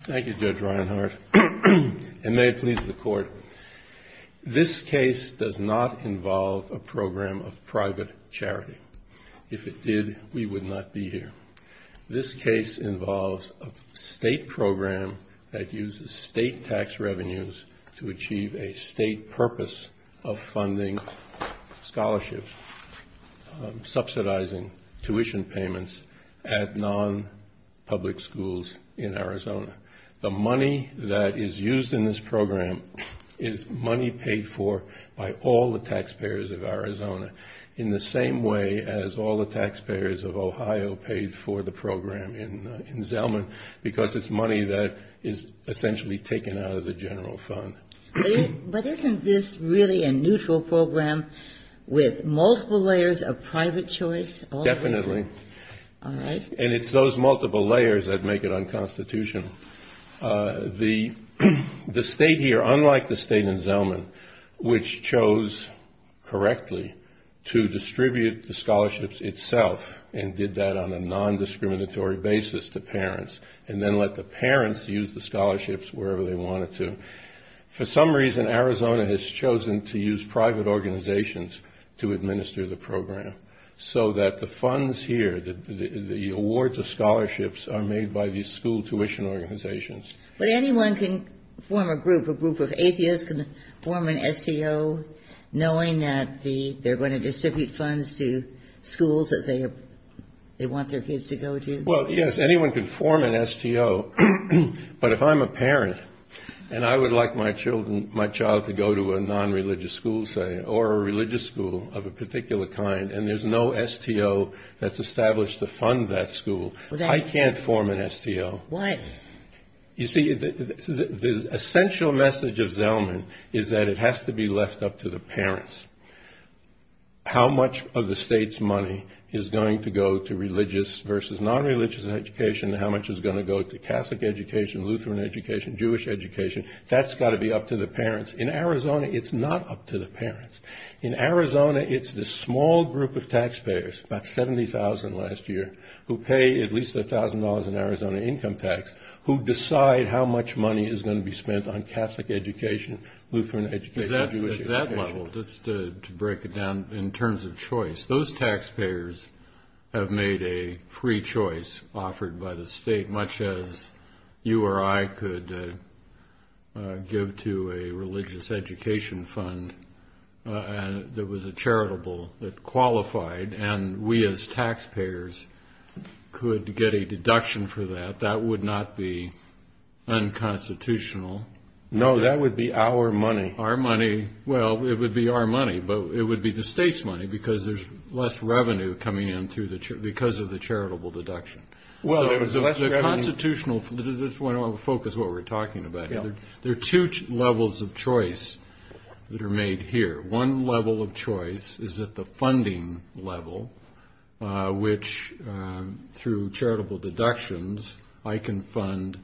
Thank you, Judge Reinhardt, and may it please the Court, this case does not involve a program of private charity. If it did, we would not be here. This case involves a state program that uses state tax revenues to achieve a state purpose of funding scholarships, subsidizing tuition payments at non-public schools in Arizona. The money that is used in this program is money paid for by all the taxpayers of Arizona, in the same way as all the taxpayers of Ohio paid for the program in Zellman, because it's money that is essentially taken out of the general fund. But isn't this really a neutral program with multiple layers of private choice? Definitely. All right. And it's those multiple layers that make it unconstitutional. The state here, unlike the state in Zellman, which chose correctly to distribute the scholarships itself and did that on a non-discriminatory basis to parents, and then let the parents use the scholarships wherever they wanted to, for some reason Arizona has chosen to use private organizations to administer the program, so that the funds here, the awards of scholarships are made by these school tuition organizations. But anyone can form a group, a group of atheists can form an STO, knowing that they're going to distribute funds to schools that they want their kids to go to? Well, yes, anyone can form an STO. But if I'm a parent and I would like my child to go to a non-religious school, say, or a religious school of a particular kind, and there's no STO that's established to fund that school, I can't form an STO. Why? You see, the essential message of Zellman is that it has to be left up to the parents. How much of the state's money is going to go to religious versus non-religious education? How much is going to go to Catholic education, Lutheran education, Jewish education? That's got to be up to the parents. In Arizona, it's not up to the parents. In Arizona, it's the small group of taxpayers, about 70,000 last year, who pay at least $1,000 in Arizona income tax, who decide how much money is going to be spent on Catholic education, Lutheran education, Jewish education. Just to break it down in terms of choice, those taxpayers have made a free choice offered by the state, much as you or I could give to a religious education fund that was charitable, that qualified, and we as taxpayers could get a deduction for that. That would not be unconstitutional. No, that would be our money. Our money. Well, it would be our money, but it would be the state's money because there's less revenue coming in because of the charitable deduction. Well, there's less revenue. The constitutional, just want to focus what we're talking about. Yeah. There are two levels of choice that are made here. One level of choice is at the funding level, which, through charitable deductions, I can fund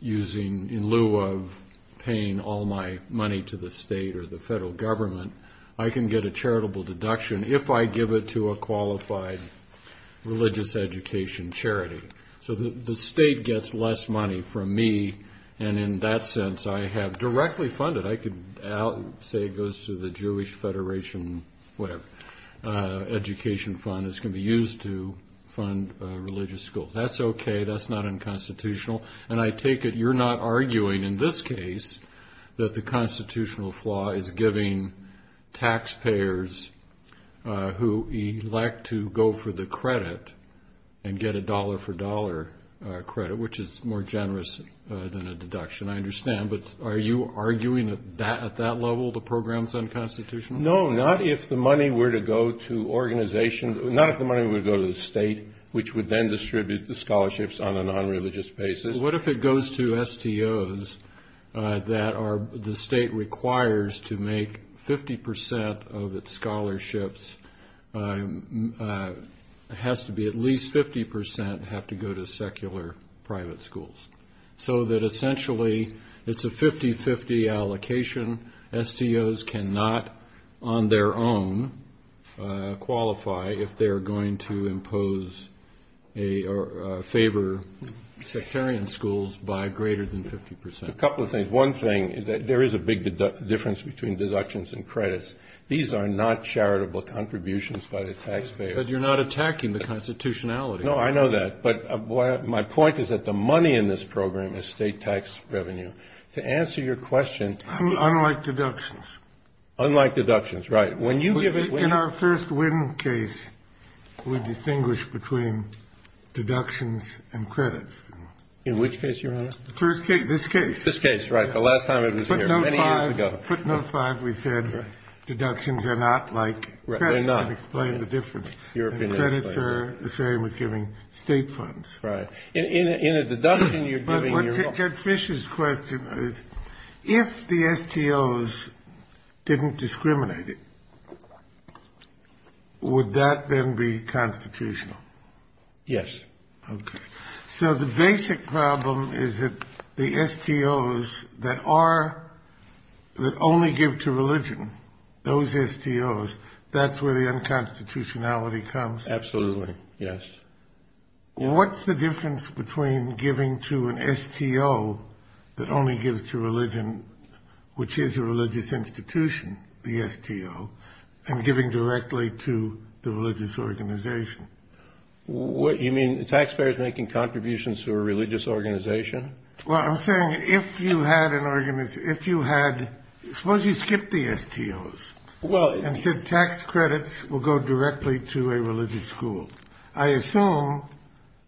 using, in lieu of paying all my money to the state or the federal government, I can get a charitable deduction if I give it to a qualified religious education charity. So the state gets less money from me, and in that sense, I have directly funded. I could say it goes to the Jewish Federation, whatever, education fund. It's going to be used to fund religious schools. That's okay. That's not unconstitutional. And I take it you're not arguing in this case that the constitutional flaw is giving taxpayers who elect to go for the credit and get a dollar-for-dollar credit, which is more generous than a deduction. I understand, but are you arguing at that level the program's unconstitutional? No, not if the money were to go to organizations. Not if the money were to go to the state, which would then distribute the scholarships on a nonreligious basis. What if it goes to STOs that the state requires to make 50% of its scholarships has to be at least 50% have to go to secular private schools? So that essentially it's a 50-50 allocation. STOs cannot on their own qualify if they're going to impose a favor sectarian schools by greater than 50%. A couple of things. One thing, there is a big difference between deductions and credits. These are not charitable contributions by the taxpayers. But you're not attacking the constitutionality. No, I know that. But my point is that the money in this program is state tax revenue. To answer your question. Unlike deductions. Unlike deductions, right. When you give it. In our first win case, we distinguish between deductions and credits. In which case, Your Honor? The first case, this case. This case, right. The last time it was here, many years ago. Footnote 5, we said deductions are not like credits. They're not. To explain the difference. Credits are the same as giving state funds. Right. In a deduction, you're giving. Judd Fish's question is, if the STOs didn't discriminate it, would that then be constitutional? Yes. Okay. So the basic problem is that the STOs that are, that only give to religion, those STOs, that's where the unconstitutionality comes. Absolutely. Yes. What's the difference between giving to an STO that only gives to religion, which is a religious institution, the STO, and giving directly to the religious organization? You mean the taxpayers making contributions to a religious organization? Well, I'm saying if you had an organization, if you had, suppose you skipped the STOs. Well. And said tax credits will go directly to a religious school. I assume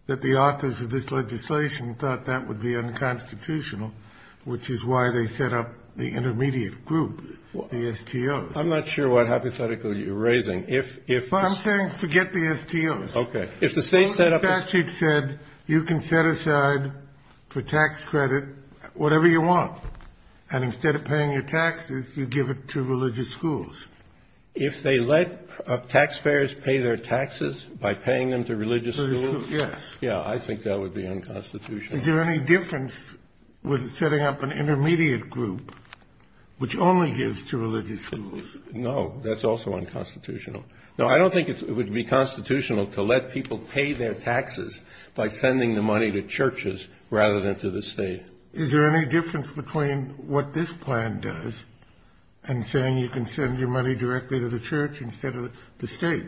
that the authors of this legislation thought that would be unconstitutional, which is why they set up the intermediate group, the STOs. I'm not sure what hypothetical you're raising. If. I'm saying forget the STOs. Okay. If the state set up. The statute said you can set aside for tax credit whatever you want, and instead of paying your taxes, you give it to religious schools. If they let taxpayers pay their taxes by paying them to religious schools. Yes. Yeah. I think that would be unconstitutional. Is there any difference with setting up an intermediate group which only gives to religious schools? No. That's also unconstitutional. No, I don't think it would be constitutional to let people pay their taxes by sending the money to churches rather than to the state. Is there any difference between what this plan does and saying you can send your money directly to the church instead of the state?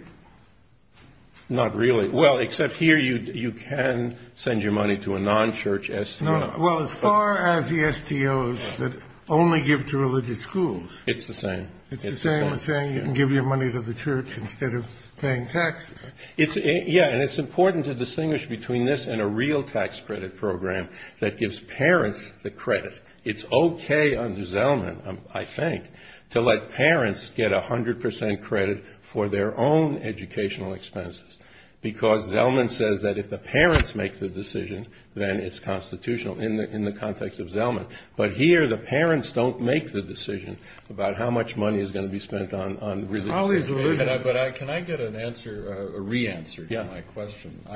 Not really. Well, except here you can send your money to a non-church STO. Well, as far as the STOs that only give to religious schools. It's the same. It's the same as saying you can give your money to the church instead of paying taxes. Yeah. And it's important to distinguish between this and a real tax credit program that gives parents the credit. It's okay under Zellman, I think, to let parents get 100 percent credit for their own educational expenses, because Zellman says that if the parents make the decision, then it's constitutional in the context of Zellman. But here the parents don't make the decision about how much money is going to be spent on religion. But can I get a re-answer to my question? Yeah.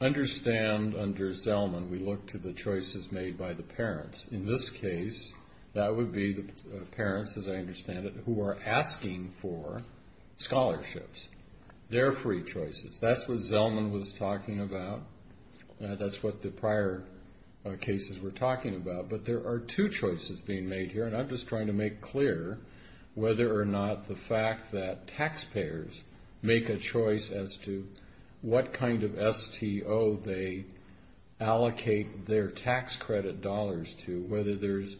I understand under Zellman we look to the choices made by the parents. In this case, that would be the parents, as I understand it, who are asking for scholarships, their free choices. That's what Zellman was talking about. That's what the prior cases were talking about. But there are two choices being made here, and I'm just trying to make clear whether or not the fact that taxpayers make a choice as to what kind of STO they allocate their tax credit dollars to, whether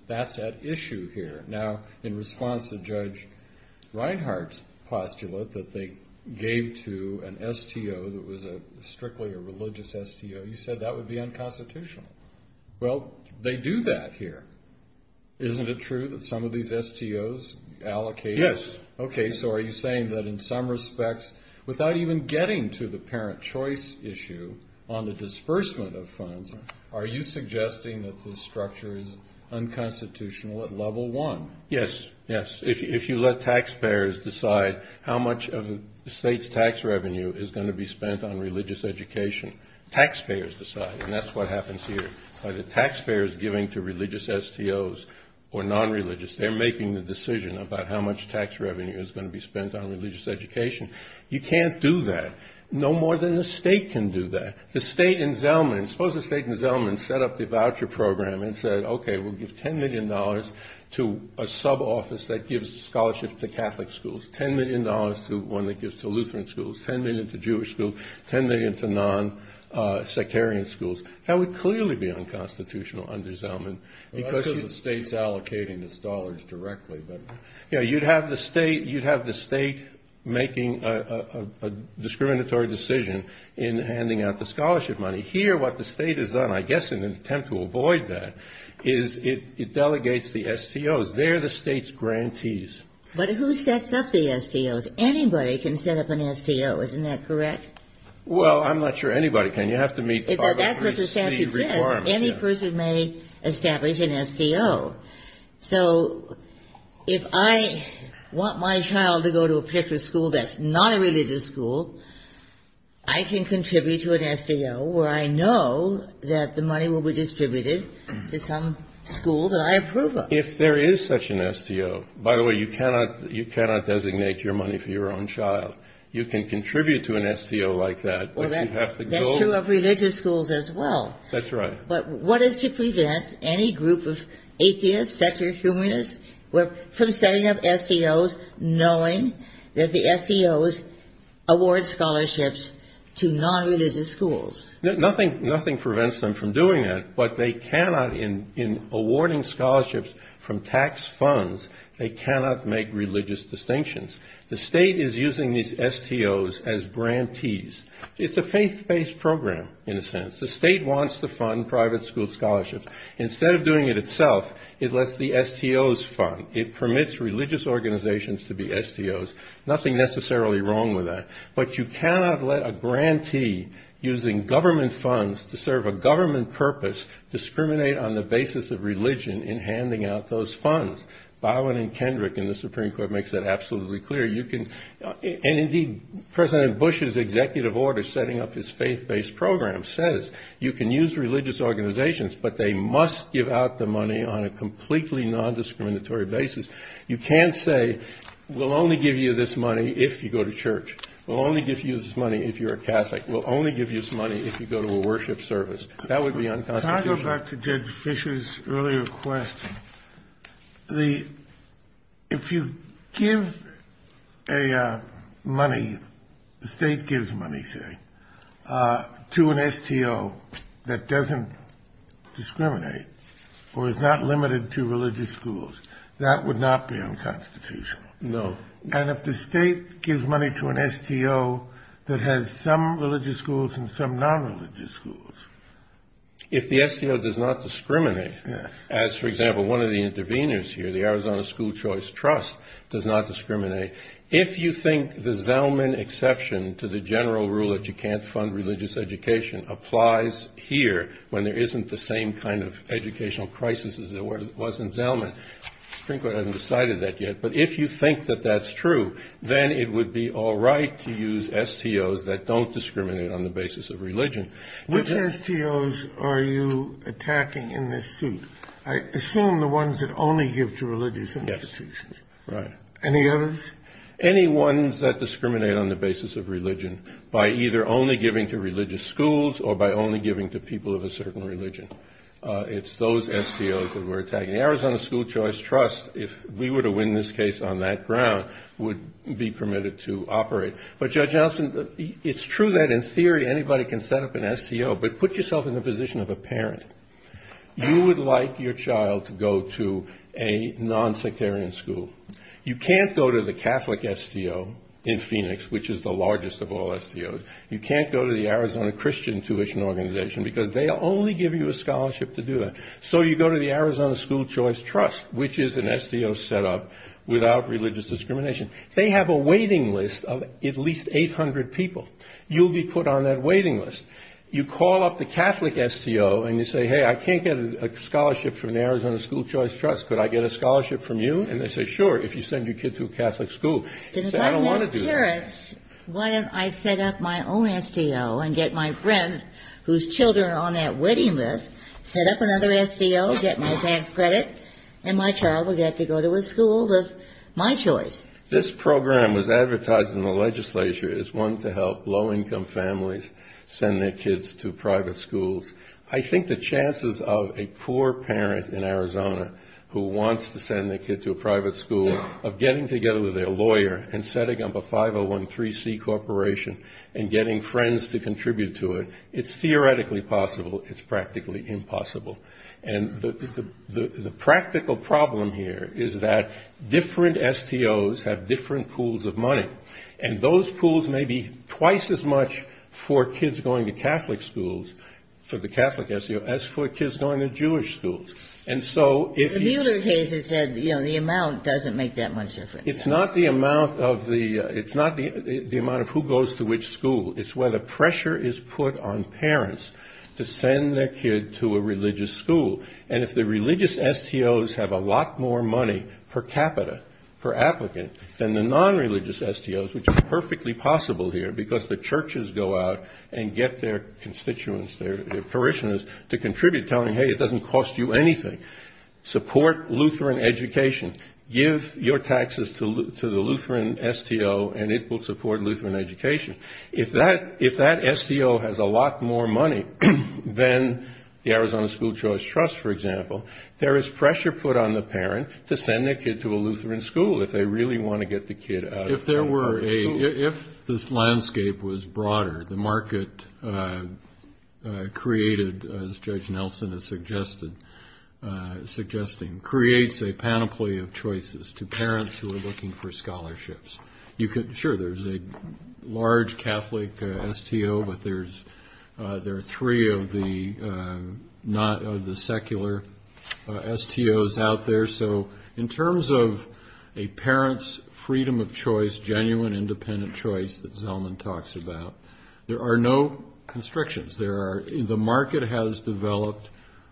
that's at issue here. Now, in response to Judge Reinhart's postulate that they gave to an STO that was strictly a religious STO, you said that would be unconstitutional. Well, they do that here. Isn't it true that some of these STOs allocate? Yes. Okay. So are you saying that in some respects, without even getting to the parent choice issue on the disbursement of funds, are you suggesting that the structure is unconstitutional at level one? Yes, yes. If you let taxpayers decide how much of the state's tax revenue is going to be spent on religious education, taxpayers decide, and that's what happens here. Either taxpayers giving to religious STOs or nonreligious, they're making the decision about how much tax revenue is going to be spent on religious education. You can't do that. No more than the state can do that. The state in Zellman, suppose the state in Zellman set up the voucher program and said, okay, we'll give $10 million to a sub-office that gives scholarships to Catholic schools, $10 million to one that gives to Lutheran schools, $10 million to Jewish schools, $10 million to non-sectarian schools. That would clearly be unconstitutional under Zellman. Well, that's because the state's allocating its dollars directly. You'd have the state making a discriminatory decision in handing out the scholarship money. Here what the state has done, I guess in an attempt to avoid that, is it delegates the STOs. They're the state's grantees. But who sets up the STOs? Anybody can set up an STO. Isn't that correct? Well, I'm not sure anybody can. You have to meet the Charter of Recency requirements. That's what the statute says. Any person may establish an STO. So if I want my child to go to a particular school that's not a religious school, I can contribute to an STO where I know that the money will be distributed to some school that I approve of. If there is such an STO. By the way, you cannot designate your money for your own child. You can contribute to an STO like that. That's true of religious schools as well. That's right. But what is to prevent any group of atheists, secular humanists, from setting up STOs, knowing that the STOs award scholarships to nonreligious schools? Nothing prevents them from doing that. But they cannot, in awarding scholarships from tax funds, they cannot make religious distinctions. The state is using these STOs as grantees. It's a faith-based program, in a sense. The state wants to fund private school scholarships. Instead of doing it itself, it lets the STOs fund. It permits religious organizations to be STOs. Nothing necessarily wrong with that. But you cannot let a grantee, using government funds to serve a government purpose, discriminate on the basis of religion in handing out those funds. Byron and Kendrick in the Supreme Court makes that absolutely clear. Indeed, President Bush's executive order setting up his faith-based program says you can use religious organizations, but they must give out the money on a completely nondiscriminatory basis. You can't say, we'll only give you this money if you go to church. We'll only give you this money if you're a Catholic. We'll only give you this money if you go to a worship service. That would be unconstitutional. Can I go back to Judge Fisher's earlier question? If you give a money, the state gives money, say, to an STO that doesn't discriminate or is not limited to religious schools, that would not be unconstitutional. No. And if the state gives money to an STO that has some religious schools and some nonreligious schools. If the STO does not discriminate, as, for example, one of the interveners here, the Arizona School Choice Trust, does not discriminate, if you think the Zelman exception to the general rule that you can't fund religious education applies here, when there isn't the same kind of educational crisis as there was in Zelman, the Supreme Court hasn't decided that yet, but if you think that that's true, then it would be all right to use STOs that don't discriminate on the basis of religion. Which STOs are you attacking in this suit? I assume the ones that only give to religious institutions. Yes. Right. Any others? Any ones that discriminate on the basis of religion by either only giving to religious schools or by only giving to people of a certain religion. It's those STOs that we're attacking. The Arizona School Choice Trust, if we were to win this case on that ground, would be permitted to operate. But, Judge Nelson, it's true that in theory anybody can set up an STO, but put yourself in the position of a parent. You would like your child to go to a nonsectarian school. You can't go to the Catholic STO in Phoenix, which is the largest of all STOs. You can't go to the Arizona Christian Tuition Organization, because they only give you a scholarship to do that. So you go to the Arizona School Choice Trust, which is an STO set up without religious discrimination. They have a waiting list of at least 800 people. You'll be put on that waiting list. You call up the Catholic STO and you say, hey, I can't get a scholarship from the Arizona School Choice Trust. Could I get a scholarship from you? And they say, sure, if you send your kid to a Catholic school. You say, I don't want to do that. Why don't I set up my own STO and get my friends, whose children are on that waiting list, set up another STO, get my tax credit, and my child will get to go to a school of my choice. This program was advertised in the legislature as one to help low-income families send their kids to private schools. I think the chances of a poor parent in Arizona who wants to send their kid to a private school, of getting together with their lawyer and setting up a 5013C corporation and getting friends to contribute to it, it's theoretically possible, it's practically impossible. And the practical problem here is that different STOs have different pools of money. And those pools may be twice as much for kids going to Catholic schools, for the Catholic STO, as for kids going to Jewish schools. And so if you – The Mueller case has said, you know, the amount doesn't make that much difference. It's not the amount of the – it's not the amount of who goes to which school. It's where the pressure is put on parents to send their kid to a religious school. And if the religious STOs have a lot more money per capita per applicant than the non-religious STOs, which is perfectly possible here because the churches go out and get their constituents, their parishioners to contribute, telling, hey, it doesn't cost you anything. Support Lutheran education. Give your taxes to the Lutheran STO, and it will support Lutheran education. If that STO has a lot more money than the Arizona School Choice Trust, for example, there is pressure put on the parent to send their kid to a Lutheran school if they really want to get the kid out. If there were a – if this landscape was broader, the market created, as Judge Nelson is suggesting, creates a panoply of choices to parents who are looking for scholarships. Sure, there's a large Catholic STO, but there are three of the secular STOs out there. So in terms of a parent's freedom of choice, genuine independent choice that Zelman talks about, there are no constrictions. There are – the market has developed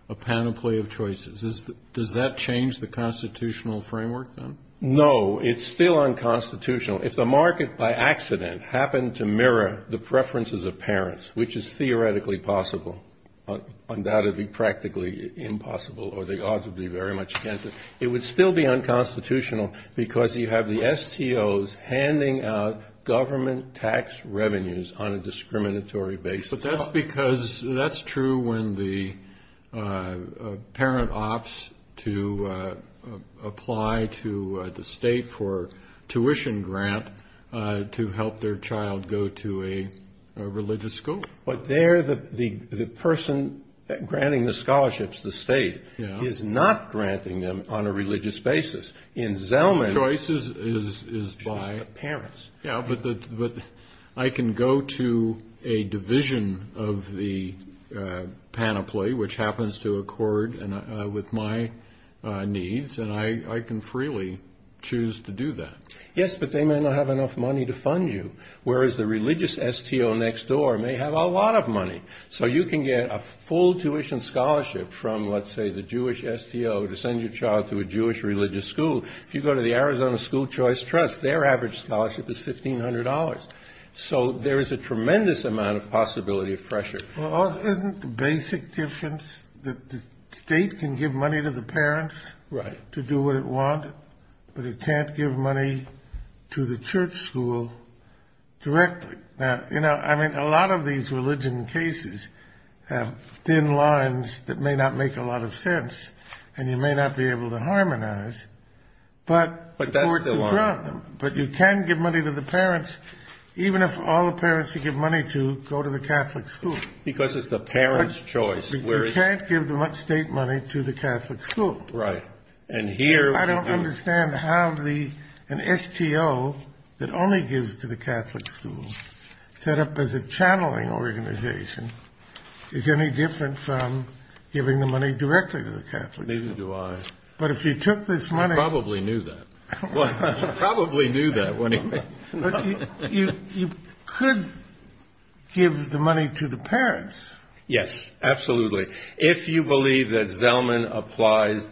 a panoply of choices. Does that change the constitutional framework, then? No, it's still unconstitutional. If the market by accident happened to mirror the preferences of parents, which is theoretically possible, undoubtedly practically impossible, or the odds would be very much against it, it would still be unconstitutional because you have the STOs handing out government tax revenues on a discriminatory basis. But that's because – that's true when the parent opts to apply to the state for tuition grant to help their child go to a religious school. But there the person granting the scholarships, the state, is not granting them on a religious basis. In Zelman's – Choice is by – Parents. Yeah, but I can go to a division of the panoply, which happens to accord with my needs, and I can freely choose to do that. Yes, but they may not have enough money to fund you, whereas the religious STO next door may have a lot of money. So you can get a full tuition scholarship from, let's say, the Jewish STO to send your child to a Jewish religious school. If you go to the Arizona School Choice Trust, their average scholarship is $1,500. So there is a tremendous amount of possibility of pressure. Well, isn't the basic difference that the state can give money to the parents to do what it wanted, but it can't give money to the church school directly? Now, you know, I mean, a lot of these religion cases have thin lines that may not make a lot of sense, and you may not be able to harmonize, but courts have drawn them. But you can give money to the parents, even if all the parents you give money to go to the Catholic school. Because it's the parents' choice, whereas – You can't give the state money to the Catholic school. Right, and here – Neither do I. But if you took this money – Probably knew that. Probably knew that, wouldn't he? You could give the money to the parents. Yes, absolutely. If you believe that Zellman applies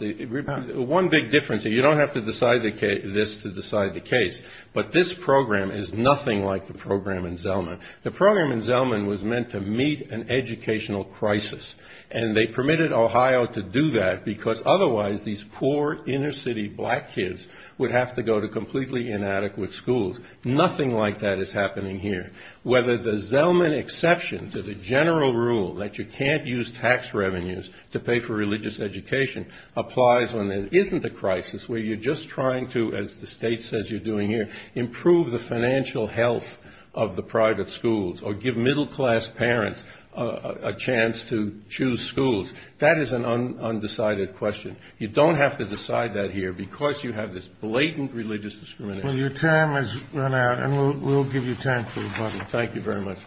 – one big difference, you don't have to decide this to decide the case, but this program is nothing like the program in Zellman. The program in Zellman was meant to meet an educational crisis, and they permitted Ohio to do that because otherwise these poor inner city black kids would have to go to completely inadequate schools. Nothing like that is happening here. Whether the Zellman exception to the general rule that you can't use tax revenues to pay for religious education applies when there isn't a crisis where you're just trying to, as the state says you're doing here, improve the financial health of the private schools or give middle-class parents a chance to choose schools. That is an undecided question. You don't have to decide that here because you have this blatant religious discrimination. Well, your time has run out, and we'll give you time for rebuttal. Thank you very much.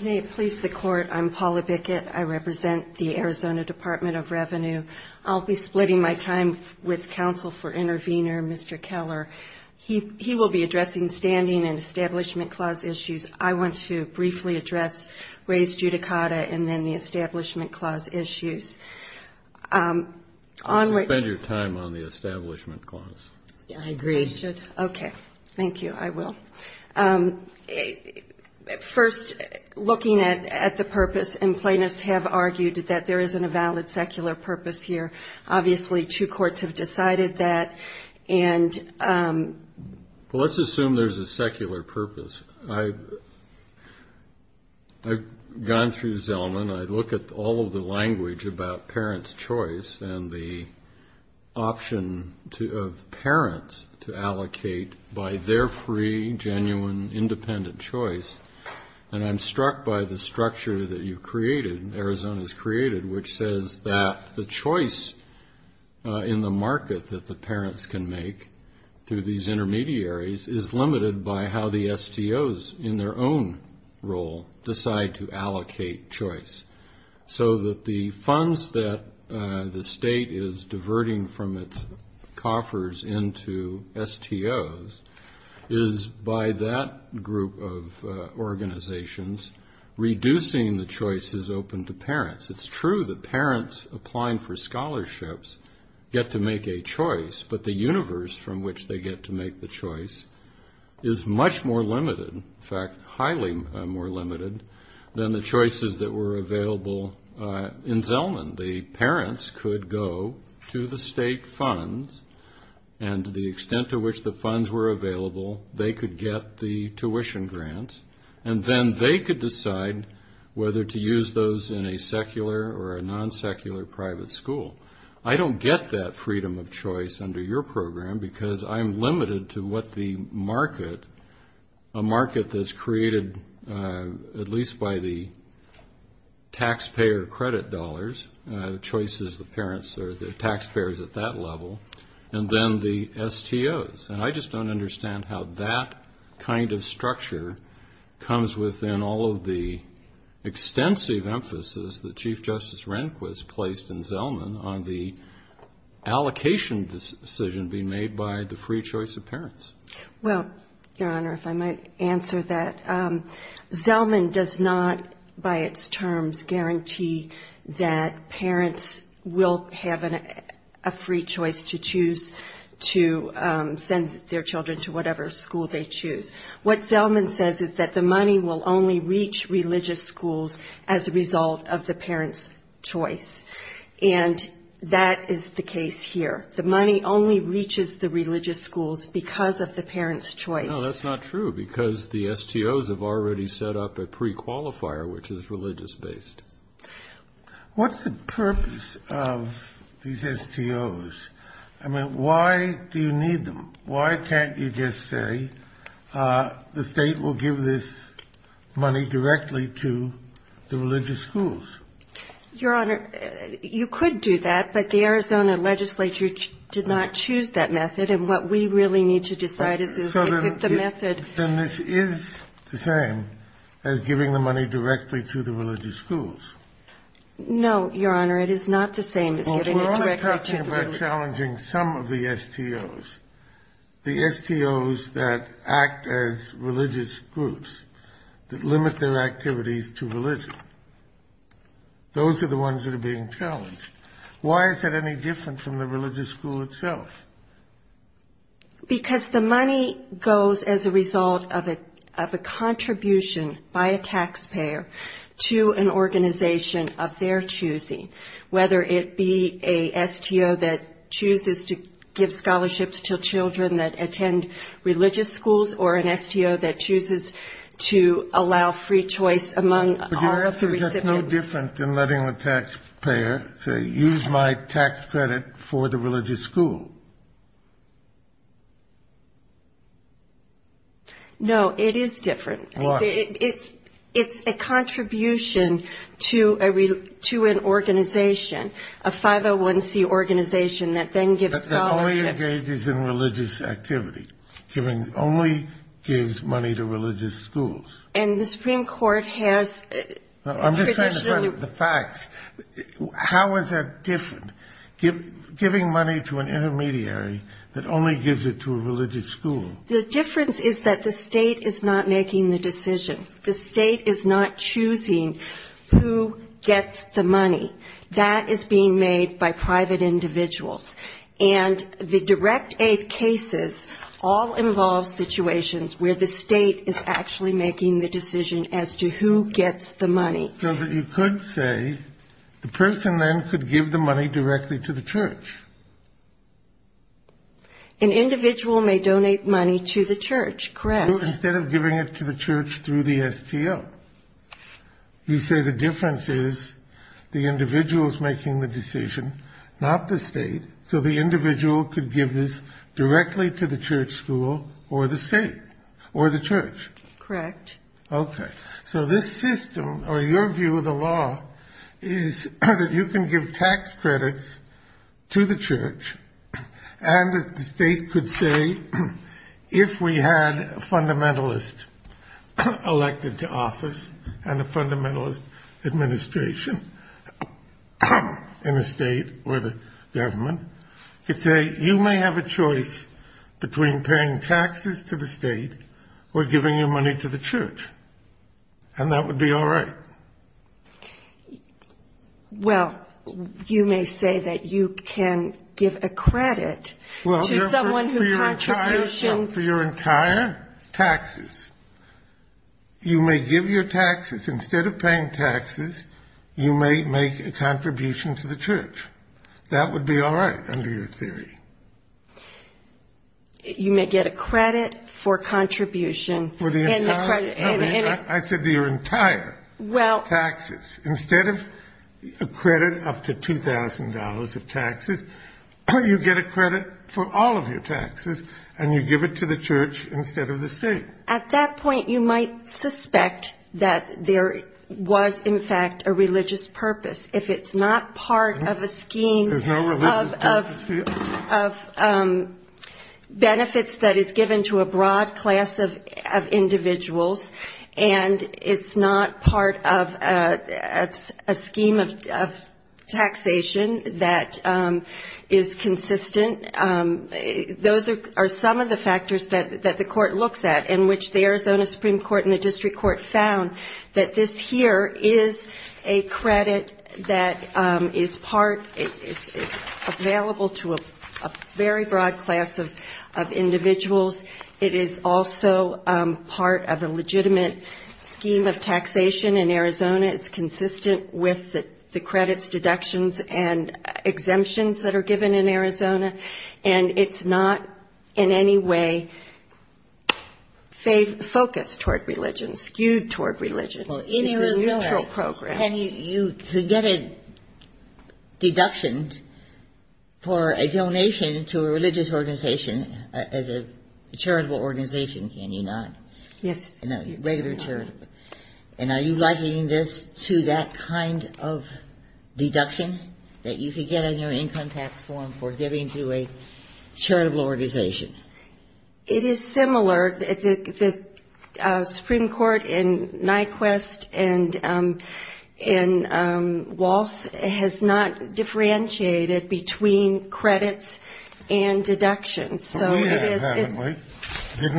May it please the Court, I'm Paula Bickett. I represent the Arizona Department of Revenue. I'll be splitting my time with counsel for intervener, Mr. Keller. He will be addressing standing and Establishment Clause issues. I want to briefly address Ray's judicata and then the Establishment Clause issues. Spend your time on the Establishment Clause. I agree. Okay. Thank you. I will. First, looking at the purpose, and plaintiffs have argued that there isn't a valid secular purpose here. Obviously, two courts have decided that. Well, let's assume there's a secular purpose. I've gone through Zelman. I look at all of the language about parents' choice and the option of parents to allocate by their free, genuine, independent choice, and I'm struck by the structure that you've created, Arizona's created, which says that the choice in the market that the parents can make through these intermediaries is limited by how the STOs in their own role decide to allocate choice. So that the funds that the state is diverting from its coffers into STOs is, by that group of organizations, reducing the choices open to parents. It's true that parents applying for scholarships get to make a choice, but the universe from which they get to make the choice is much more limited, in fact, highly more limited, than the choices that were available in Zelman. The parents could go to the state funds, and to the extent to which the funds were available, they could get the tuition grants, and then they could decide whether to use those in a secular or a non-secular private school. I don't get that freedom of choice under your program because I'm limited to what the market, a market that's created at least by the taxpayer credit dollars, choices the parents or the taxpayers at that level, and then the STOs. And I just don't understand how that kind of structure comes within all of the extensive emphasis that Chief Justice Rehnquist placed in Zelman on the allocation decision being made by the free choice of parents. Well, Your Honor, if I might answer that. Zelman does not, by its terms, guarantee that parents will have a free choice to choose to send their children to whatever school they choose. What Zelman says is that the money will only reach religious schools as a result of the parents' choice. And that is the case here. The money only reaches the religious schools because of the parents' choice. No, that's not true, because the STOs have already set up a prequalifier, which is religious-based. What's the purpose of these STOs? I mean, why do you need them? Why can't you just say the State will give this money directly to the religious schools? Your Honor, you could do that, but the Arizona legislature did not choose that method. And what we really need to decide is if the method ---- So then this is the same as giving the money directly to the religious schools? No, Your Honor. It is not the same as giving it directly to the religious schools. Well, we're only talking about challenging some of the STOs, the STOs that act as religious groups that limit their activities to religion. Those are the ones that are being challenged. Why is that any different from the religious school itself? Because the money goes as a result of a contribution by a taxpayer to an organization of their choosing, whether it be a STO that chooses to give scholarships to children that attend religious schools or an STO that chooses to allow free choice among all of the recipients. But your answer is that's no different than letting the taxpayer say, use my tax credit for the religious school. No, it is different. Why? It's a contribution to an organization, a 501C organization that then gives scholarships. That only engages in religious activity, only gives money to religious schools. And the Supreme Court has traditionally ---- I'm just trying to come to the facts. How is that different, giving money to an intermediary that only gives it to a religious school? The difference is that the State is not making the decision. The State is not choosing who gets the money. That is being made by private individuals. And the direct aid cases all involve situations where the State is actually making the decision as to who gets the money. So you could say the person then could give the money directly to the church. An individual may donate money to the church, correct. Instead of giving it to the church through the STO. You say the difference is the individual is making the decision, not the State. So the individual could give this directly to the church school or the State or the church. Correct. Okay. So this system or your view of the law is that you can give tax credits to the church. And the State could say if we had a fundamentalist elected to office and a fundamentalist administration in the State or the government, you may have a choice between paying taxes to the State or giving your money to the church. And that would be all right. Well, you may say that you can give a credit to someone who contributions. For your entire taxes. You may give your taxes. Instead of paying taxes, you may make a contribution to the church. That would be all right under your theory. You may get a credit for contribution. I said your entire taxes. Instead of a credit up to $2,000 of taxes, you get a credit for all of your taxes, and you give it to the church instead of the State. At that point, you might suspect that there was, in fact, a religious purpose. If it's not part of a scheme of benefits that is given to a broad class of individuals, and it's not part of a scheme of taxation that is consistent, those are some of the factors that the court looks at, in which the Arizona Supreme Court and the district court found that this here is a credit that is part, it's available to a very broad class of individuals. It is also part of a legitimate scheme of taxation in Arizona. It's consistent with the credits, deductions, and exemptions that are given in Arizona. It's not in any way focused toward religion, skewed toward religion. It's a neutral program. You could get a deduction for a donation to a religious organization as a charitable organization, can you not? Yes. Regular charitable. And are you likening this to that kind of deduction that you could get in your income tax form for giving to a charitable organization? It is similar. The Supreme Court in Nyquist and in Walsh has not differentiated between credits and deductions. Didn't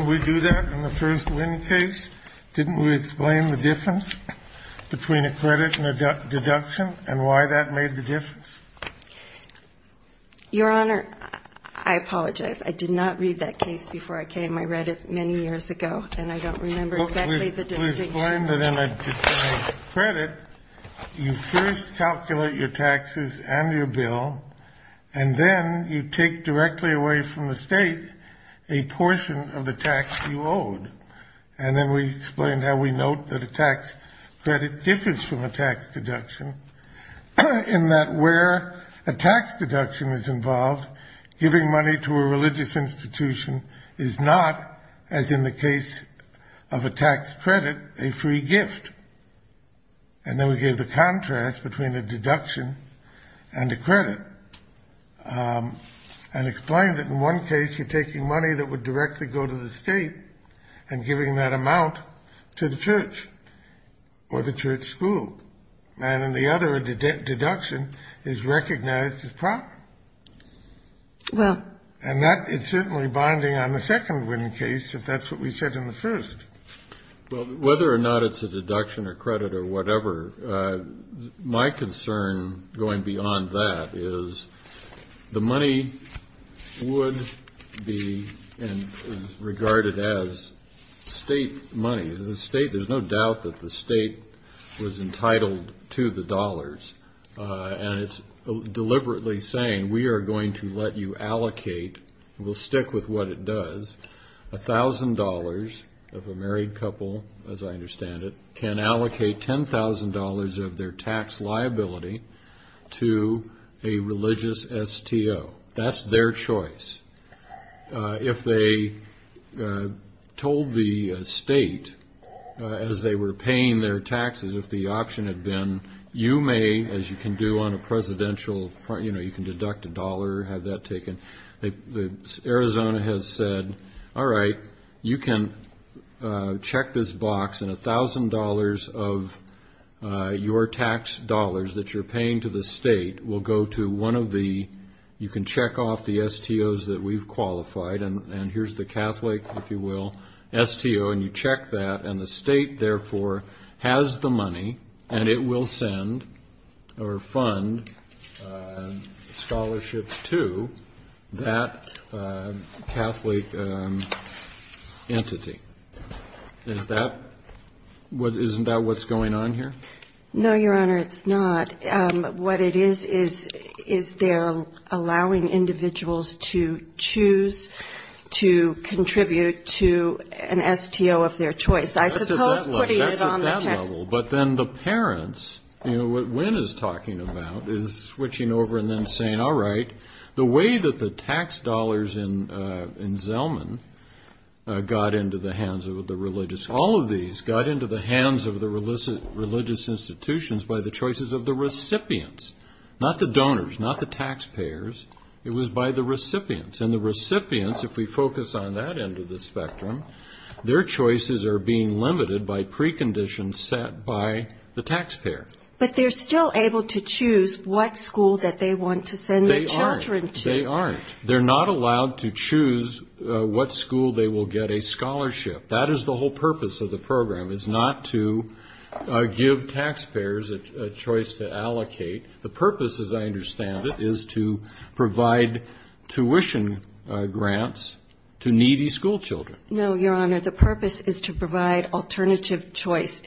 we do that in the first Wynn case? Didn't we explain the difference between a credit and a deduction and why that made the difference? Your Honor, I apologize. I did not read that case before I came. I read it many years ago, and I don't remember exactly the distinction. We explained that in a credit, you first calculate your taxes and your bill, and then you take directly away from the state a portion of the tax you owed. And then we explained how we note that a tax credit differs from a tax deduction in that where a tax deduction is involved, giving money to a religious institution is not, as in the case of a tax credit, a free gift. And then we gave the contrast between a deduction and a credit and explained that in one case you're taking money that would directly go to the state and giving that amount to the church or the church school. And in the other, a deduction is recognized as proper. And that is certainly bonding on the second Wynn case, if that's what we said in the first. Well, whether or not it's a deduction or credit or whatever, my concern going beyond that is the money would be regarded as state money. There's no doubt that the state was entitled to the dollars, and it's deliberately saying we are going to let you allocate, we'll stick with what it does, $1,000 of a married couple, as I understand it, can allocate $10,000 of their tax liability to a religious STO. That's their choice. If they told the state, as they were paying their taxes, if the option had been, you may, as you can do on a presidential, you know, you can deduct a dollar, have that taken. Arizona has said, all right, you can check this box, and $1,000 of your tax dollars that you're paying to the state will go to one of the, you can check off the STOs that we've qualified, and here's the Catholic, if you will, STO. And you check that, and the state, therefore, has the money, and it will send or fund scholarships to that Catholic entity. Isn't that what's going on here? No, Your Honor, it's not. What it is, is they're allowing individuals to choose to contribute to an STO of their choice. I suppose putting it on the tax. That's at that level. But then the parents, you know, what Wynn is talking about is switching over and then saying, all right, the way that the tax dollars in Zellman got into the hands of the religious, all of these got into the hands of the religious institutions by the choices of the recipients, not the donors, not the taxpayers. It was by the recipients. And the recipients, if we focus on that end of the spectrum, their choices are being limited by preconditions set by the taxpayer. But they're still able to choose what school that they want to send their children to. They aren't. They're not allowed to choose what school they will get a scholarship. That is the whole purpose of the program, is not to give taxpayers a choice to allocate. The purpose, as I understand it, is to provide tuition grants to needy schoolchildren. No, Your Honor. The purpose is to provide alternative choice,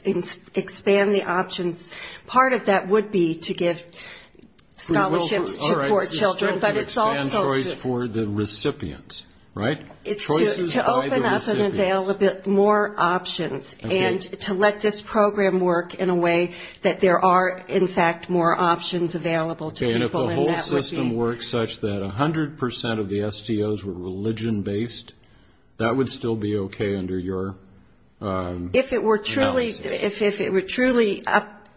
expand the options. Part of that would be to give scholarships to poor children, but it's also to open up and avail the parents. More options. And to let this program work in a way that there are, in fact, more options available to people. Okay, and if the whole system works such that 100% of the STOs were religion-based, that would still be okay under your analysis? If it were truly,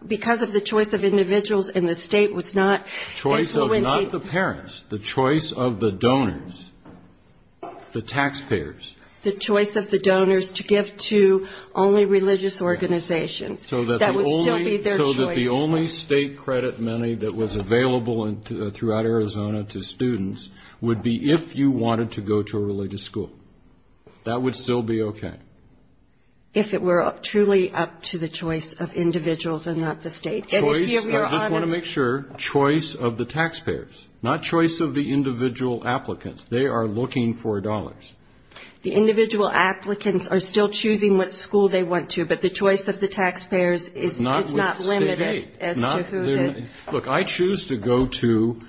because of the choice of individuals and the state was not influencing. Choice of not the parents, the choice of the donors, the taxpayers. The choice of the donors to give to only religious organizations. That would still be their choice. So that the only state credit money that was available throughout Arizona to students would be if you wanted to go to a religious school. That would still be okay. If it were truly up to the choice of individuals and not the state. Choice, I just want to make sure, choice of the taxpayers, not choice of the individual applicants. They are looking for dollars. The individual applicants are still choosing what school they want to, but the choice of the taxpayers is not limited as to who. Look, I choose to go to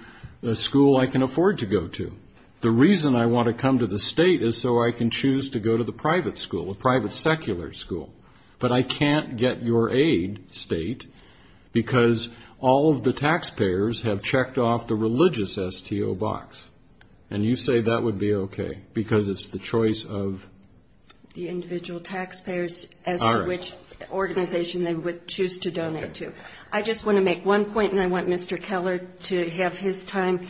a school I can afford to go to. The reason I want to come to the state is so I can choose to go to the private school, a private secular school. But I can't get your aid, state, because all of the taxpayers have checked off the religious STO box. And you say that would be okay because it's the choice of? The individual taxpayers as to which organization they would choose to donate to. I just want to make one point, and I want Mr. Keller to have his time.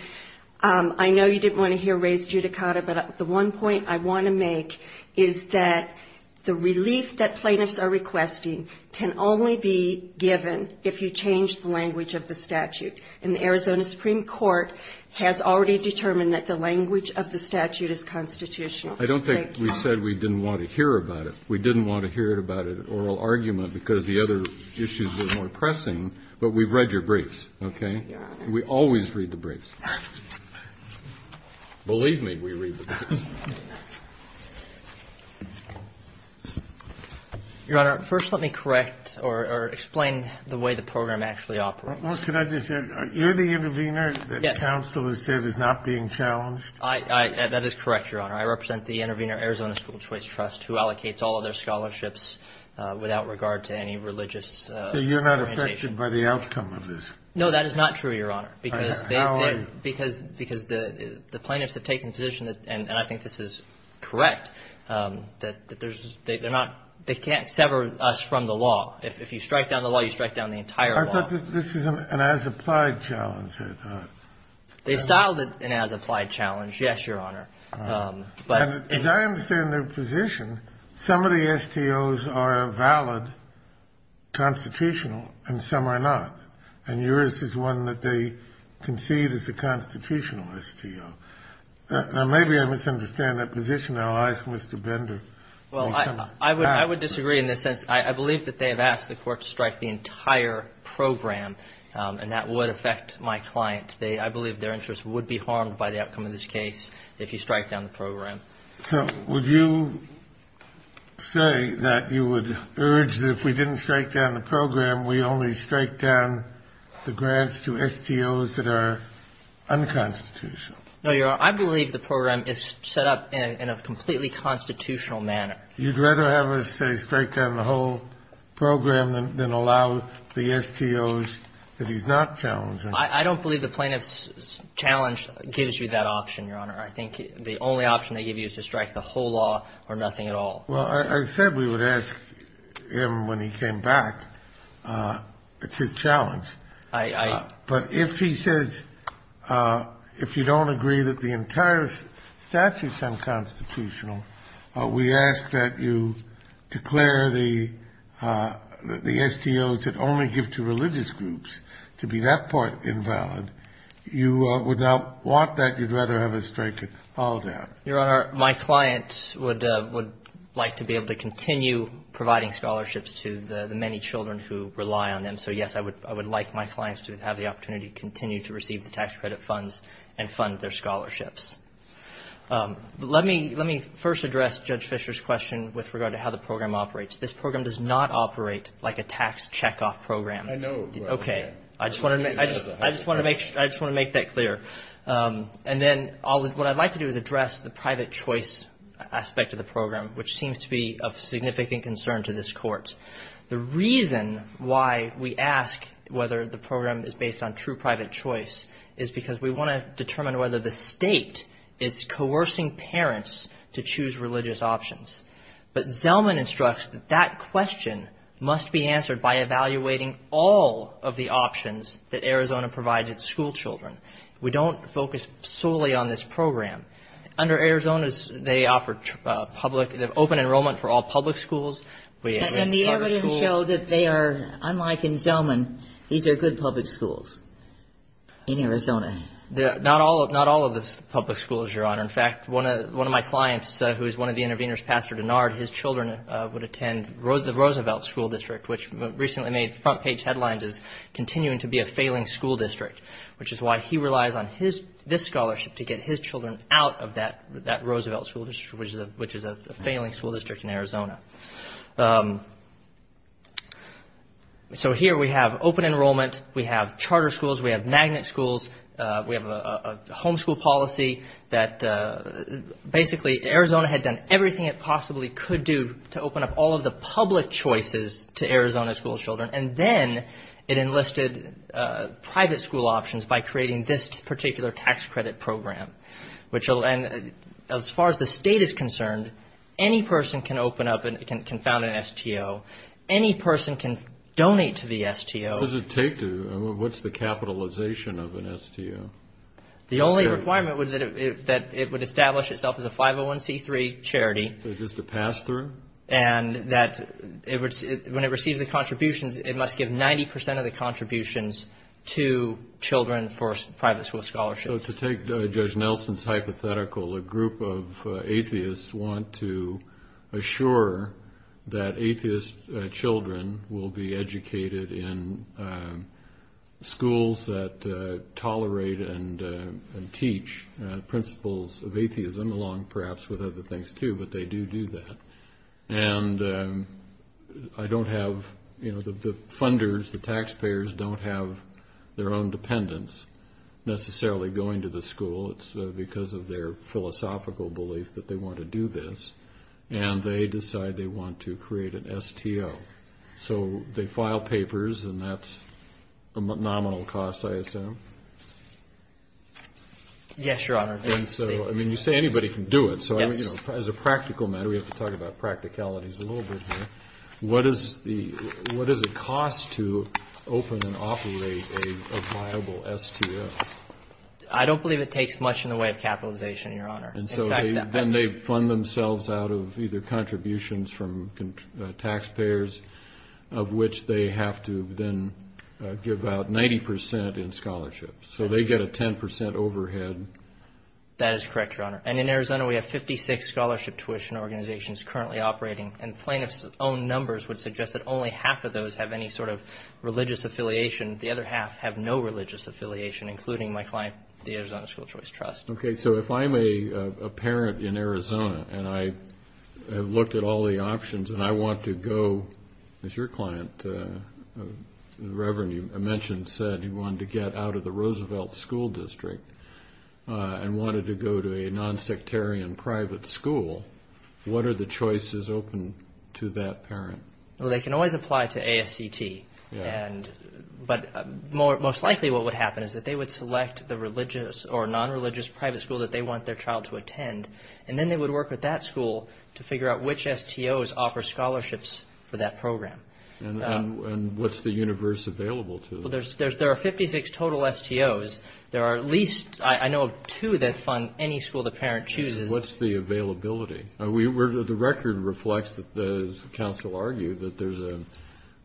I know you didn't want to hear Ray's judicata, but the one point I want to make is that the relief that plaintiffs are requesting can only be given if you change the language of the statute. And the Arizona Supreme Court has already determined that the language of the statute is constitutional. Thank you. I don't think we said we didn't want to hear about it. We didn't want to hear about it at oral argument because the other issues were more pressing. But we've read your briefs, okay? Your Honor. We always read the briefs. Believe me, we read the briefs. Your Honor, first let me correct or explain the way the program actually operates. Can I just say, you're the intervener that counsel has said is not being challenged? That is correct, Your Honor. I represent the Intervener Arizona School Choice Trust, who allocates all of their scholarships without regard to any religious orientation. So you're not affected by the outcome of this? No, that is not true, Your Honor. How are you? Because the plaintiffs have taken the position, and I think this is correct, that there's they're not they can't sever us from the law. If you strike down the law, you strike down the entire law. But this is an as-applied challenge, I thought. They've styled it an as-applied challenge, yes, Your Honor. But as I understand their position, some of the STOs are valid, constitutional, and some are not. And yours is one that they concede is a constitutional STO. Now, maybe I misunderstand that position. I'll ask Mr. Bender. Well, I would disagree in this sense. I believe that they have asked the Court to strike the entire program, and that would affect my client. I believe their interest would be harmed by the outcome of this case if you strike down the program. So would you say that you would urge that if we didn't strike down the program, we only strike down the grants to STOs that are unconstitutional? No, Your Honor. I believe the program is set up in a completely constitutional manner. You'd rather have us, say, strike down the whole program than allow the STOs that he's not challenging? I don't believe the plaintiff's challenge gives you that option, Your Honor. I think the only option they give you is to strike the whole law or nothing at all. Well, I said we would ask him when he came back. It's his challenge. I don't. But if he says, if you don't agree that the entire statute's unconstitutional, we ask that you declare the STOs that only give to religious groups to be that part invalid, you would not want that? You'd rather have us strike it all down? Your Honor, my client would like to be able to continue providing scholarships to the many children who rely on them. So, yes, I would like my clients to have the opportunity to continue to receive the tax credit funds and fund their scholarships. Let me first address Judge Fischer's question with regard to how the program operates. This program does not operate like a tax checkoff program. I know. Okay. I just want to make that clear. And then what I'd like to do is address the private choice aspect of the program, which seems to be of significant concern to this Court. The reason why we ask whether the program is based on true private choice is because we want to state it's coercing parents to choose religious options. But Zellman instructs that that question must be answered by evaluating all of the options that Arizona provides its school children. We don't focus solely on this program. Under Arizona, they offer open enrollment for all public schools. And the evidence showed that they are, unlike in Zellman, these are good public schools in Arizona. Not all of the public schools, Your Honor. In fact, one of my clients, who is one of the intervenors, Pastor Denard, his children would attend the Roosevelt School District, which recently made front page headlines as continuing to be a failing school district, which is why he relies on this scholarship to get his children out of that Roosevelt School District, which is a failing school district in Arizona. So here we have open enrollment. We have charter schools. We have magnet schools. We have a homeschool policy that basically Arizona had done everything it possibly could do to open up all of the public choices to Arizona school children. And then it enlisted private school options by creating this particular tax credit program, which as far as the state is concerned, any person can open up and can found an STO. Any person can donate to the STO. What does it take? What's the capitalization of an STO? The only requirement was that it would establish itself as a 501c3 charity. So just a pass-through? And that when it receives the contributions, it must give 90 percent of the contributions to children for private school scholarships. So to take Judge Nelson's hypothetical, a group of atheists want to assure that atheist children will be educated in schools that tolerate and teach principles of atheism along perhaps with other things, too, but they do do that. And I don't have the funders, the taxpayers don't have their own dependents necessarily going to the school. It's because of their philosophical belief that they want to do this. And they decide they want to create an STO. So they file papers, and that's a nominal cost, I assume? Yes, Your Honor. And so, I mean, you say anybody can do it. So as a practical matter, we have to talk about practicalities a little bit here. What is the cost to open and operate a viable STO? I don't believe it takes much in the way of capitalization, Your Honor. And so then they fund themselves out of either contributions from taxpayers, of which they have to then give out 90 percent in scholarships. So they get a 10 percent overhead. That is correct, Your Honor. And in Arizona, we have 56 scholarship tuition organizations currently operating. And plaintiff's own numbers would suggest that only half of those have any sort of religious affiliation. The other half have no religious affiliation, including my client, the Arizona School Choice Trust. Okay. So if I'm a parent in Arizona, and I have looked at all the options, and I want to go, as your client, the Reverend, you mentioned, said he wanted to get out of the Roosevelt School District and wanted to go to a nonsectarian private school, what are the choices open to that parent? Well, they can always apply to ASCT. But most likely what would happen is that they would select the religious or nonreligious private school that they want their child to attend, and then they would work with that school to figure out which STOs offer scholarships for that program. And what's the universe available to them? There are 56 total STOs. There are at least, I know, two that fund any school the parent chooses. What's the availability? The record reflects, as counsel argued, that there's a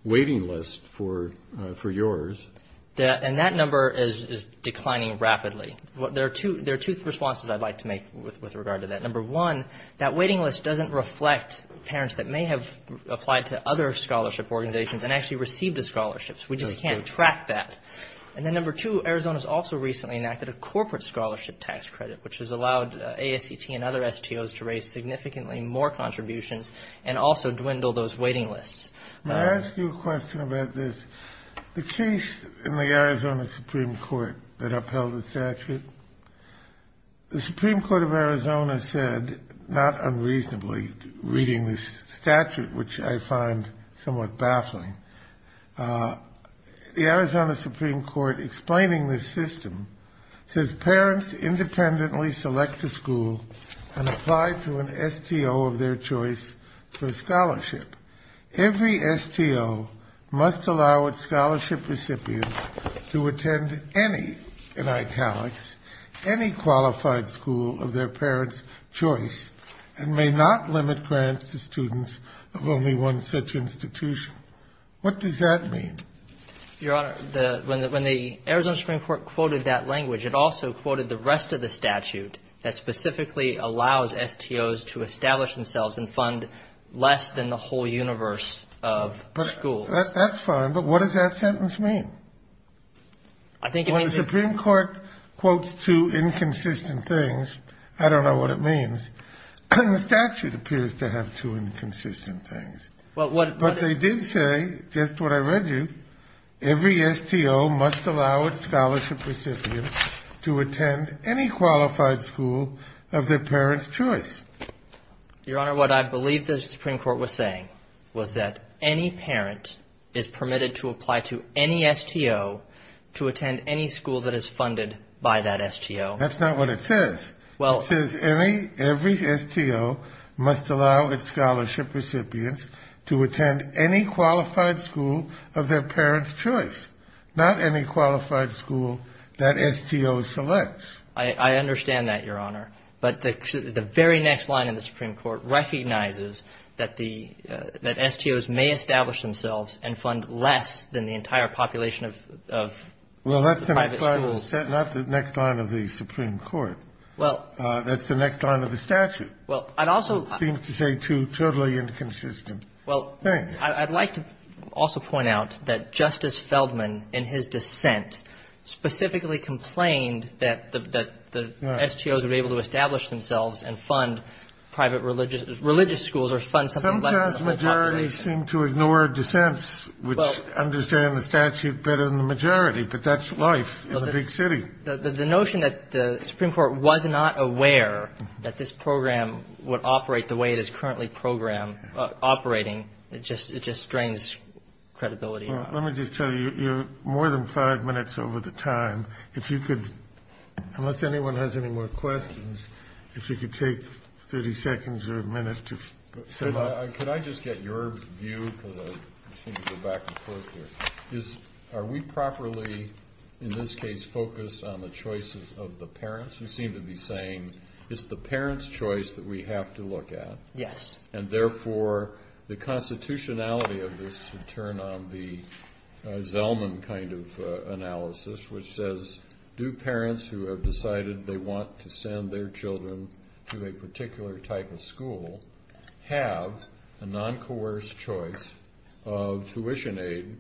waiting list for yours. And that number is declining rapidly. There are two responses I'd like to make with regard to that. Number one, that waiting list doesn't reflect parents that may have applied to other scholarship organizations and actually received the scholarships. We just can't track that. And then number two, Arizona's also recently enacted a corporate scholarship tax credit, which has allowed ASCT and other STOs to raise significantly more contributions and also dwindle those waiting lists. May I ask you a question about this? The case in the Arizona Supreme Court that upheld the statute, the Supreme Court of Arizona said, not unreasonably, reading this statute, which I find somewhat baffling, the Arizona Supreme Court, explaining this system, says parents independently select a school and apply to an STO of their choice for a scholarship. Every STO must allow its scholarship recipients to attend any, in italics, any qualified school of their parent's choice and may not limit grants to students of only one such institution. What does that mean? Your Honor, when the Arizona Supreme Court quoted that language, it also quoted the rest of the statute that specifically allows STOs to establish themselves and fund less than the whole universe of schools. That's fine, but what does that sentence mean? I think it means that the Supreme Court quotes two inconsistent things. I don't know what it means. The statute appears to have two inconsistent things. But they did say, just what I read you, every STO must allow its scholarship recipients to attend any qualified school of their parent's choice. Your Honor, what I believe the Supreme Court was saying was that any parent is permitted to apply to any STO to attend any school that is funded by that STO. That's not what it says. It says every STO must allow its scholarship recipients to attend any qualified school of their parent's choice, not any qualified school that STO selects. I understand that, Your Honor. But the very next line in the Supreme Court recognizes that STOs may establish themselves and fund less than the entire population of private schools. Well, that's the next line of the statute. It seems to say two totally inconsistent things. Well, I'd like to also point out that Justice Feldman, in his dissent, specifically complained that the STOs were able to establish themselves and fund private religious schools or fund something less than the whole population. Sometimes majorities seem to ignore dissents which understand the statute better than the majority. But that's life in a big city. The notion that the Supreme Court was not aware that this program would operate the way it is currently programmed, operating, it just strains credibility. Let me just tell you, you're more than five minutes over the time. If you could, unless anyone has any more questions, if you could take 30 seconds or a minute to sum up. Could I just get your view, because I seem to go back and forth here. Are we properly, in this case, focused on the choices of the parents? You seem to be saying it's the parents' choice that we have to look at. Yes. And, therefore, the constitutionality of this should turn on the Zellman kind of analysis, which says do parents who have decided they want to send their children to a particular type of school have a non-coerced choice of tuition aid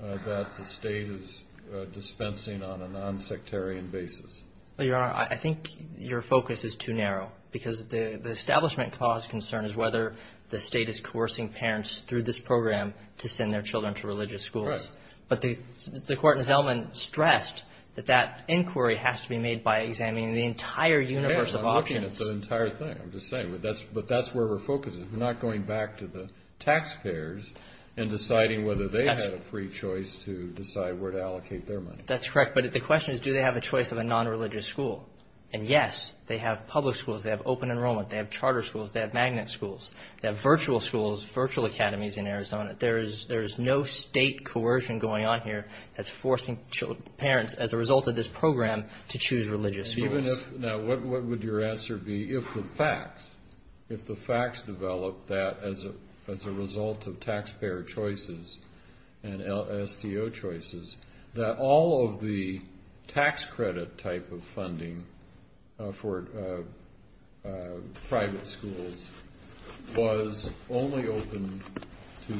that the state is dispensing on a non-sectarian basis? Well, Your Honor, I think your focus is too narrow, because the establishment cause concern is whether the state is coercing parents through this program to send their children to religious schools. Right. But the court in Zellman stressed that that inquiry has to be made by examining the entire universe of options. I'm not saying it's an entire thing. I'm just saying, but that's where we're focused. We're not going back to the taxpayers and deciding whether they had a free choice to decide where to allocate their money. That's correct. But the question is do they have a choice of a non-religious school. And, yes, they have public schools. They have open enrollment. They have charter schools. They have magnet schools. They have virtual schools, virtual academies in Arizona. There is no state coercion going on here that's forcing parents, as a result of this program, to choose religious schools. Now, what would your answer be if the facts developed that, as a result of taxpayer choices and STO choices, that all of the tax credit type of funding for private schools was only open to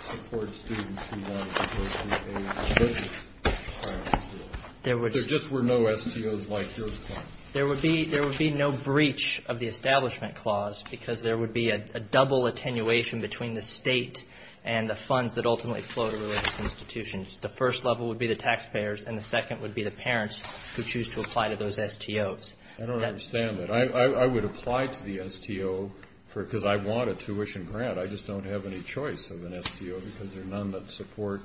support students who wanted to go to a religious private school? There just were no STOs like yours. There would be no breach of the Establishment Clause because there would be a double attenuation between the state and the funds that ultimately flow to religious institutions. The first level would be the taxpayers, and the second would be the parents who choose to apply to those STOs. I don't understand that. I would apply to the STO because I want a tuition grant. I just don't have any choice of an STO because there are none that support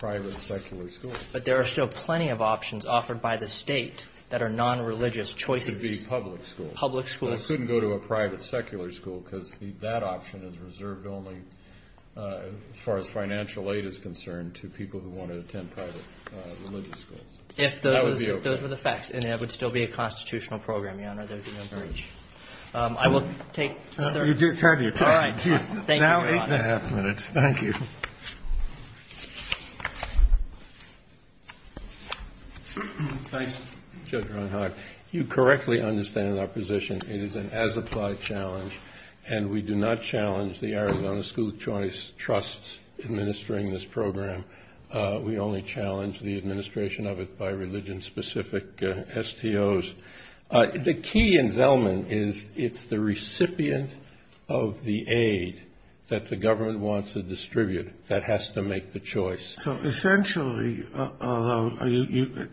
private secular schools. But there are still plenty of options offered by the state that are nonreligious choices. It should be public schools. Public schools. It shouldn't go to a private secular school because that option is reserved only, as far as financial aid is concerned, to people who want to attend private religious schools. That would be okay. If those were the facts. And that would still be a constitutional program, Your Honor. There would be no breach. I will take other questions. You do turn to your question. All right. Thank you, Your Honor. Now eight and a half minutes. Thank you. Thank you, Judge Ron Hodge. You correctly understand our position. It is an as-applied challenge, and we do not challenge the Arizona School Choice Trust's administering this program. We only challenge the administration of it by religion-specific STOs. The key in Zellman is it's the recipient of the aid that the government wants to distribute that has to make the choice. So essentially,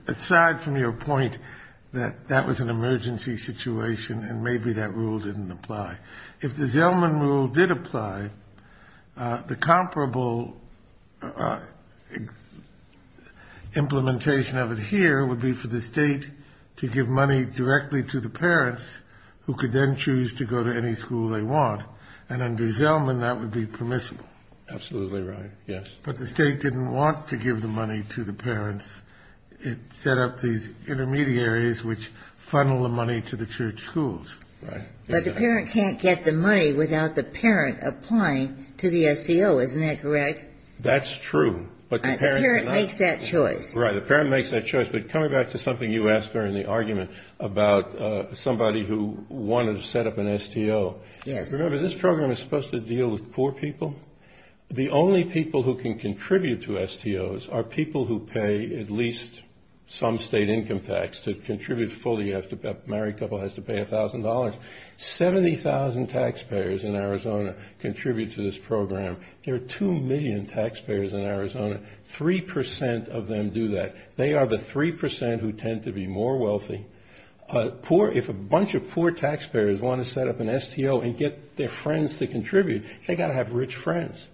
aside from your point that that was an emergency situation and maybe that rule didn't apply, if the Zellman rule did apply, the comparable implementation of it here would be for the state to give money to the state. It would give money directly to the parents who could then choose to go to any school they want. And under Zellman, that would be permissible. Absolutely right. Yes. But the state didn't want to give the money to the parents. It set up these intermediaries which funnel the money to the church schools. Right. But the parent can't get the money without the parent applying to the STO. Isn't that correct? That's true. But the parent cannot. The parent makes that choice. Right. The parent makes that choice. But coming back to something you asked during the argument about somebody who wanted to set up an STO. Yes. Remember, this program is supposed to deal with poor people. The only people who can contribute to STOs are people who pay at least some state income tax to contribute fully. A married couple has to pay $1,000. 70,000 taxpayers in Arizona contribute to this program. There are 2 million taxpayers in Arizona. Three percent of them do that. They are the three percent who tend to be more wealthy. If a bunch of poor taxpayers want to set up an STO and get their friends to contribute, they've got to have rich friends.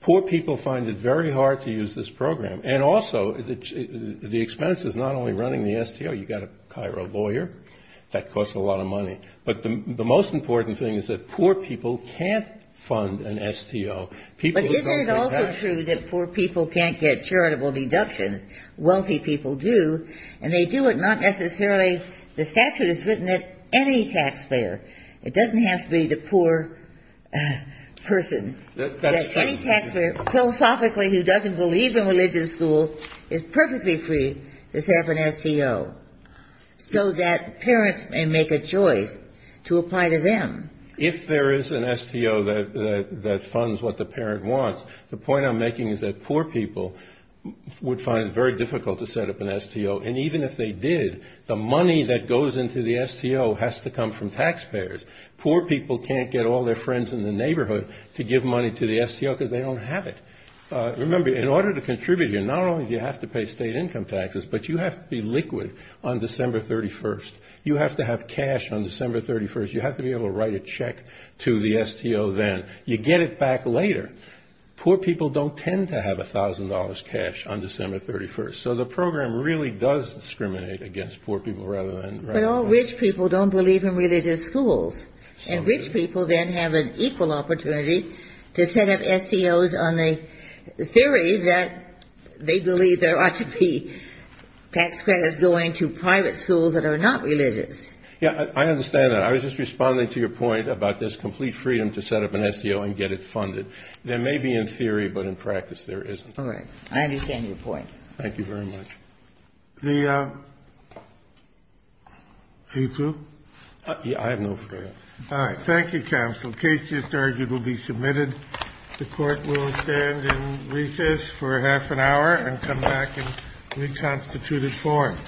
Poor people find it very hard to use this program. And also, the expense is not only running the STO. You've got to hire a lawyer. That costs a lot of money. But the most important thing is that poor people can't fund an STO. But isn't it also true that poor people can't get charitable deductions? Wealthy people do. And they do it not necessarily the statute is written that any taxpayer, it doesn't have to be the poor person, that any taxpayer philosophically who doesn't believe in religious schools is perfectly free to set up an STO, so that parents may make a choice to apply to them. If there is an STO that funds what the parent wants, the point I'm making is that poor people would find it very difficult to set up an STO. And even if they did, the money that goes into the STO has to come from taxpayers. Poor people can't get all their friends in the neighborhood to give money to the STO because they don't have it. Remember, in order to contribute here, not only do you have to pay state income taxes, but you have to be liquid on December 31st. You have to have cash on December 31st. You have to be able to write a check to the STO then. You get it back later. Poor people don't tend to have $1,000 cash on December 31st. So the program really does discriminate against poor people rather than... But all rich people don't believe in religious schools. And rich people then have an equal opportunity to set up STOs on the theory that they believe there ought to be tax credits going to private schools that are not religious. Yeah, I understand that. I was just responding to your point about there's complete freedom to set up an STO and get it funded. There may be in theory, but in practice there isn't. All right. I understand your point. Thank you very much. The... Are you through? I have no further... All right. Thank you, counsel. The case just argued will be submitted. The Court will stand in recess for half an hour and come back in reconstituted form.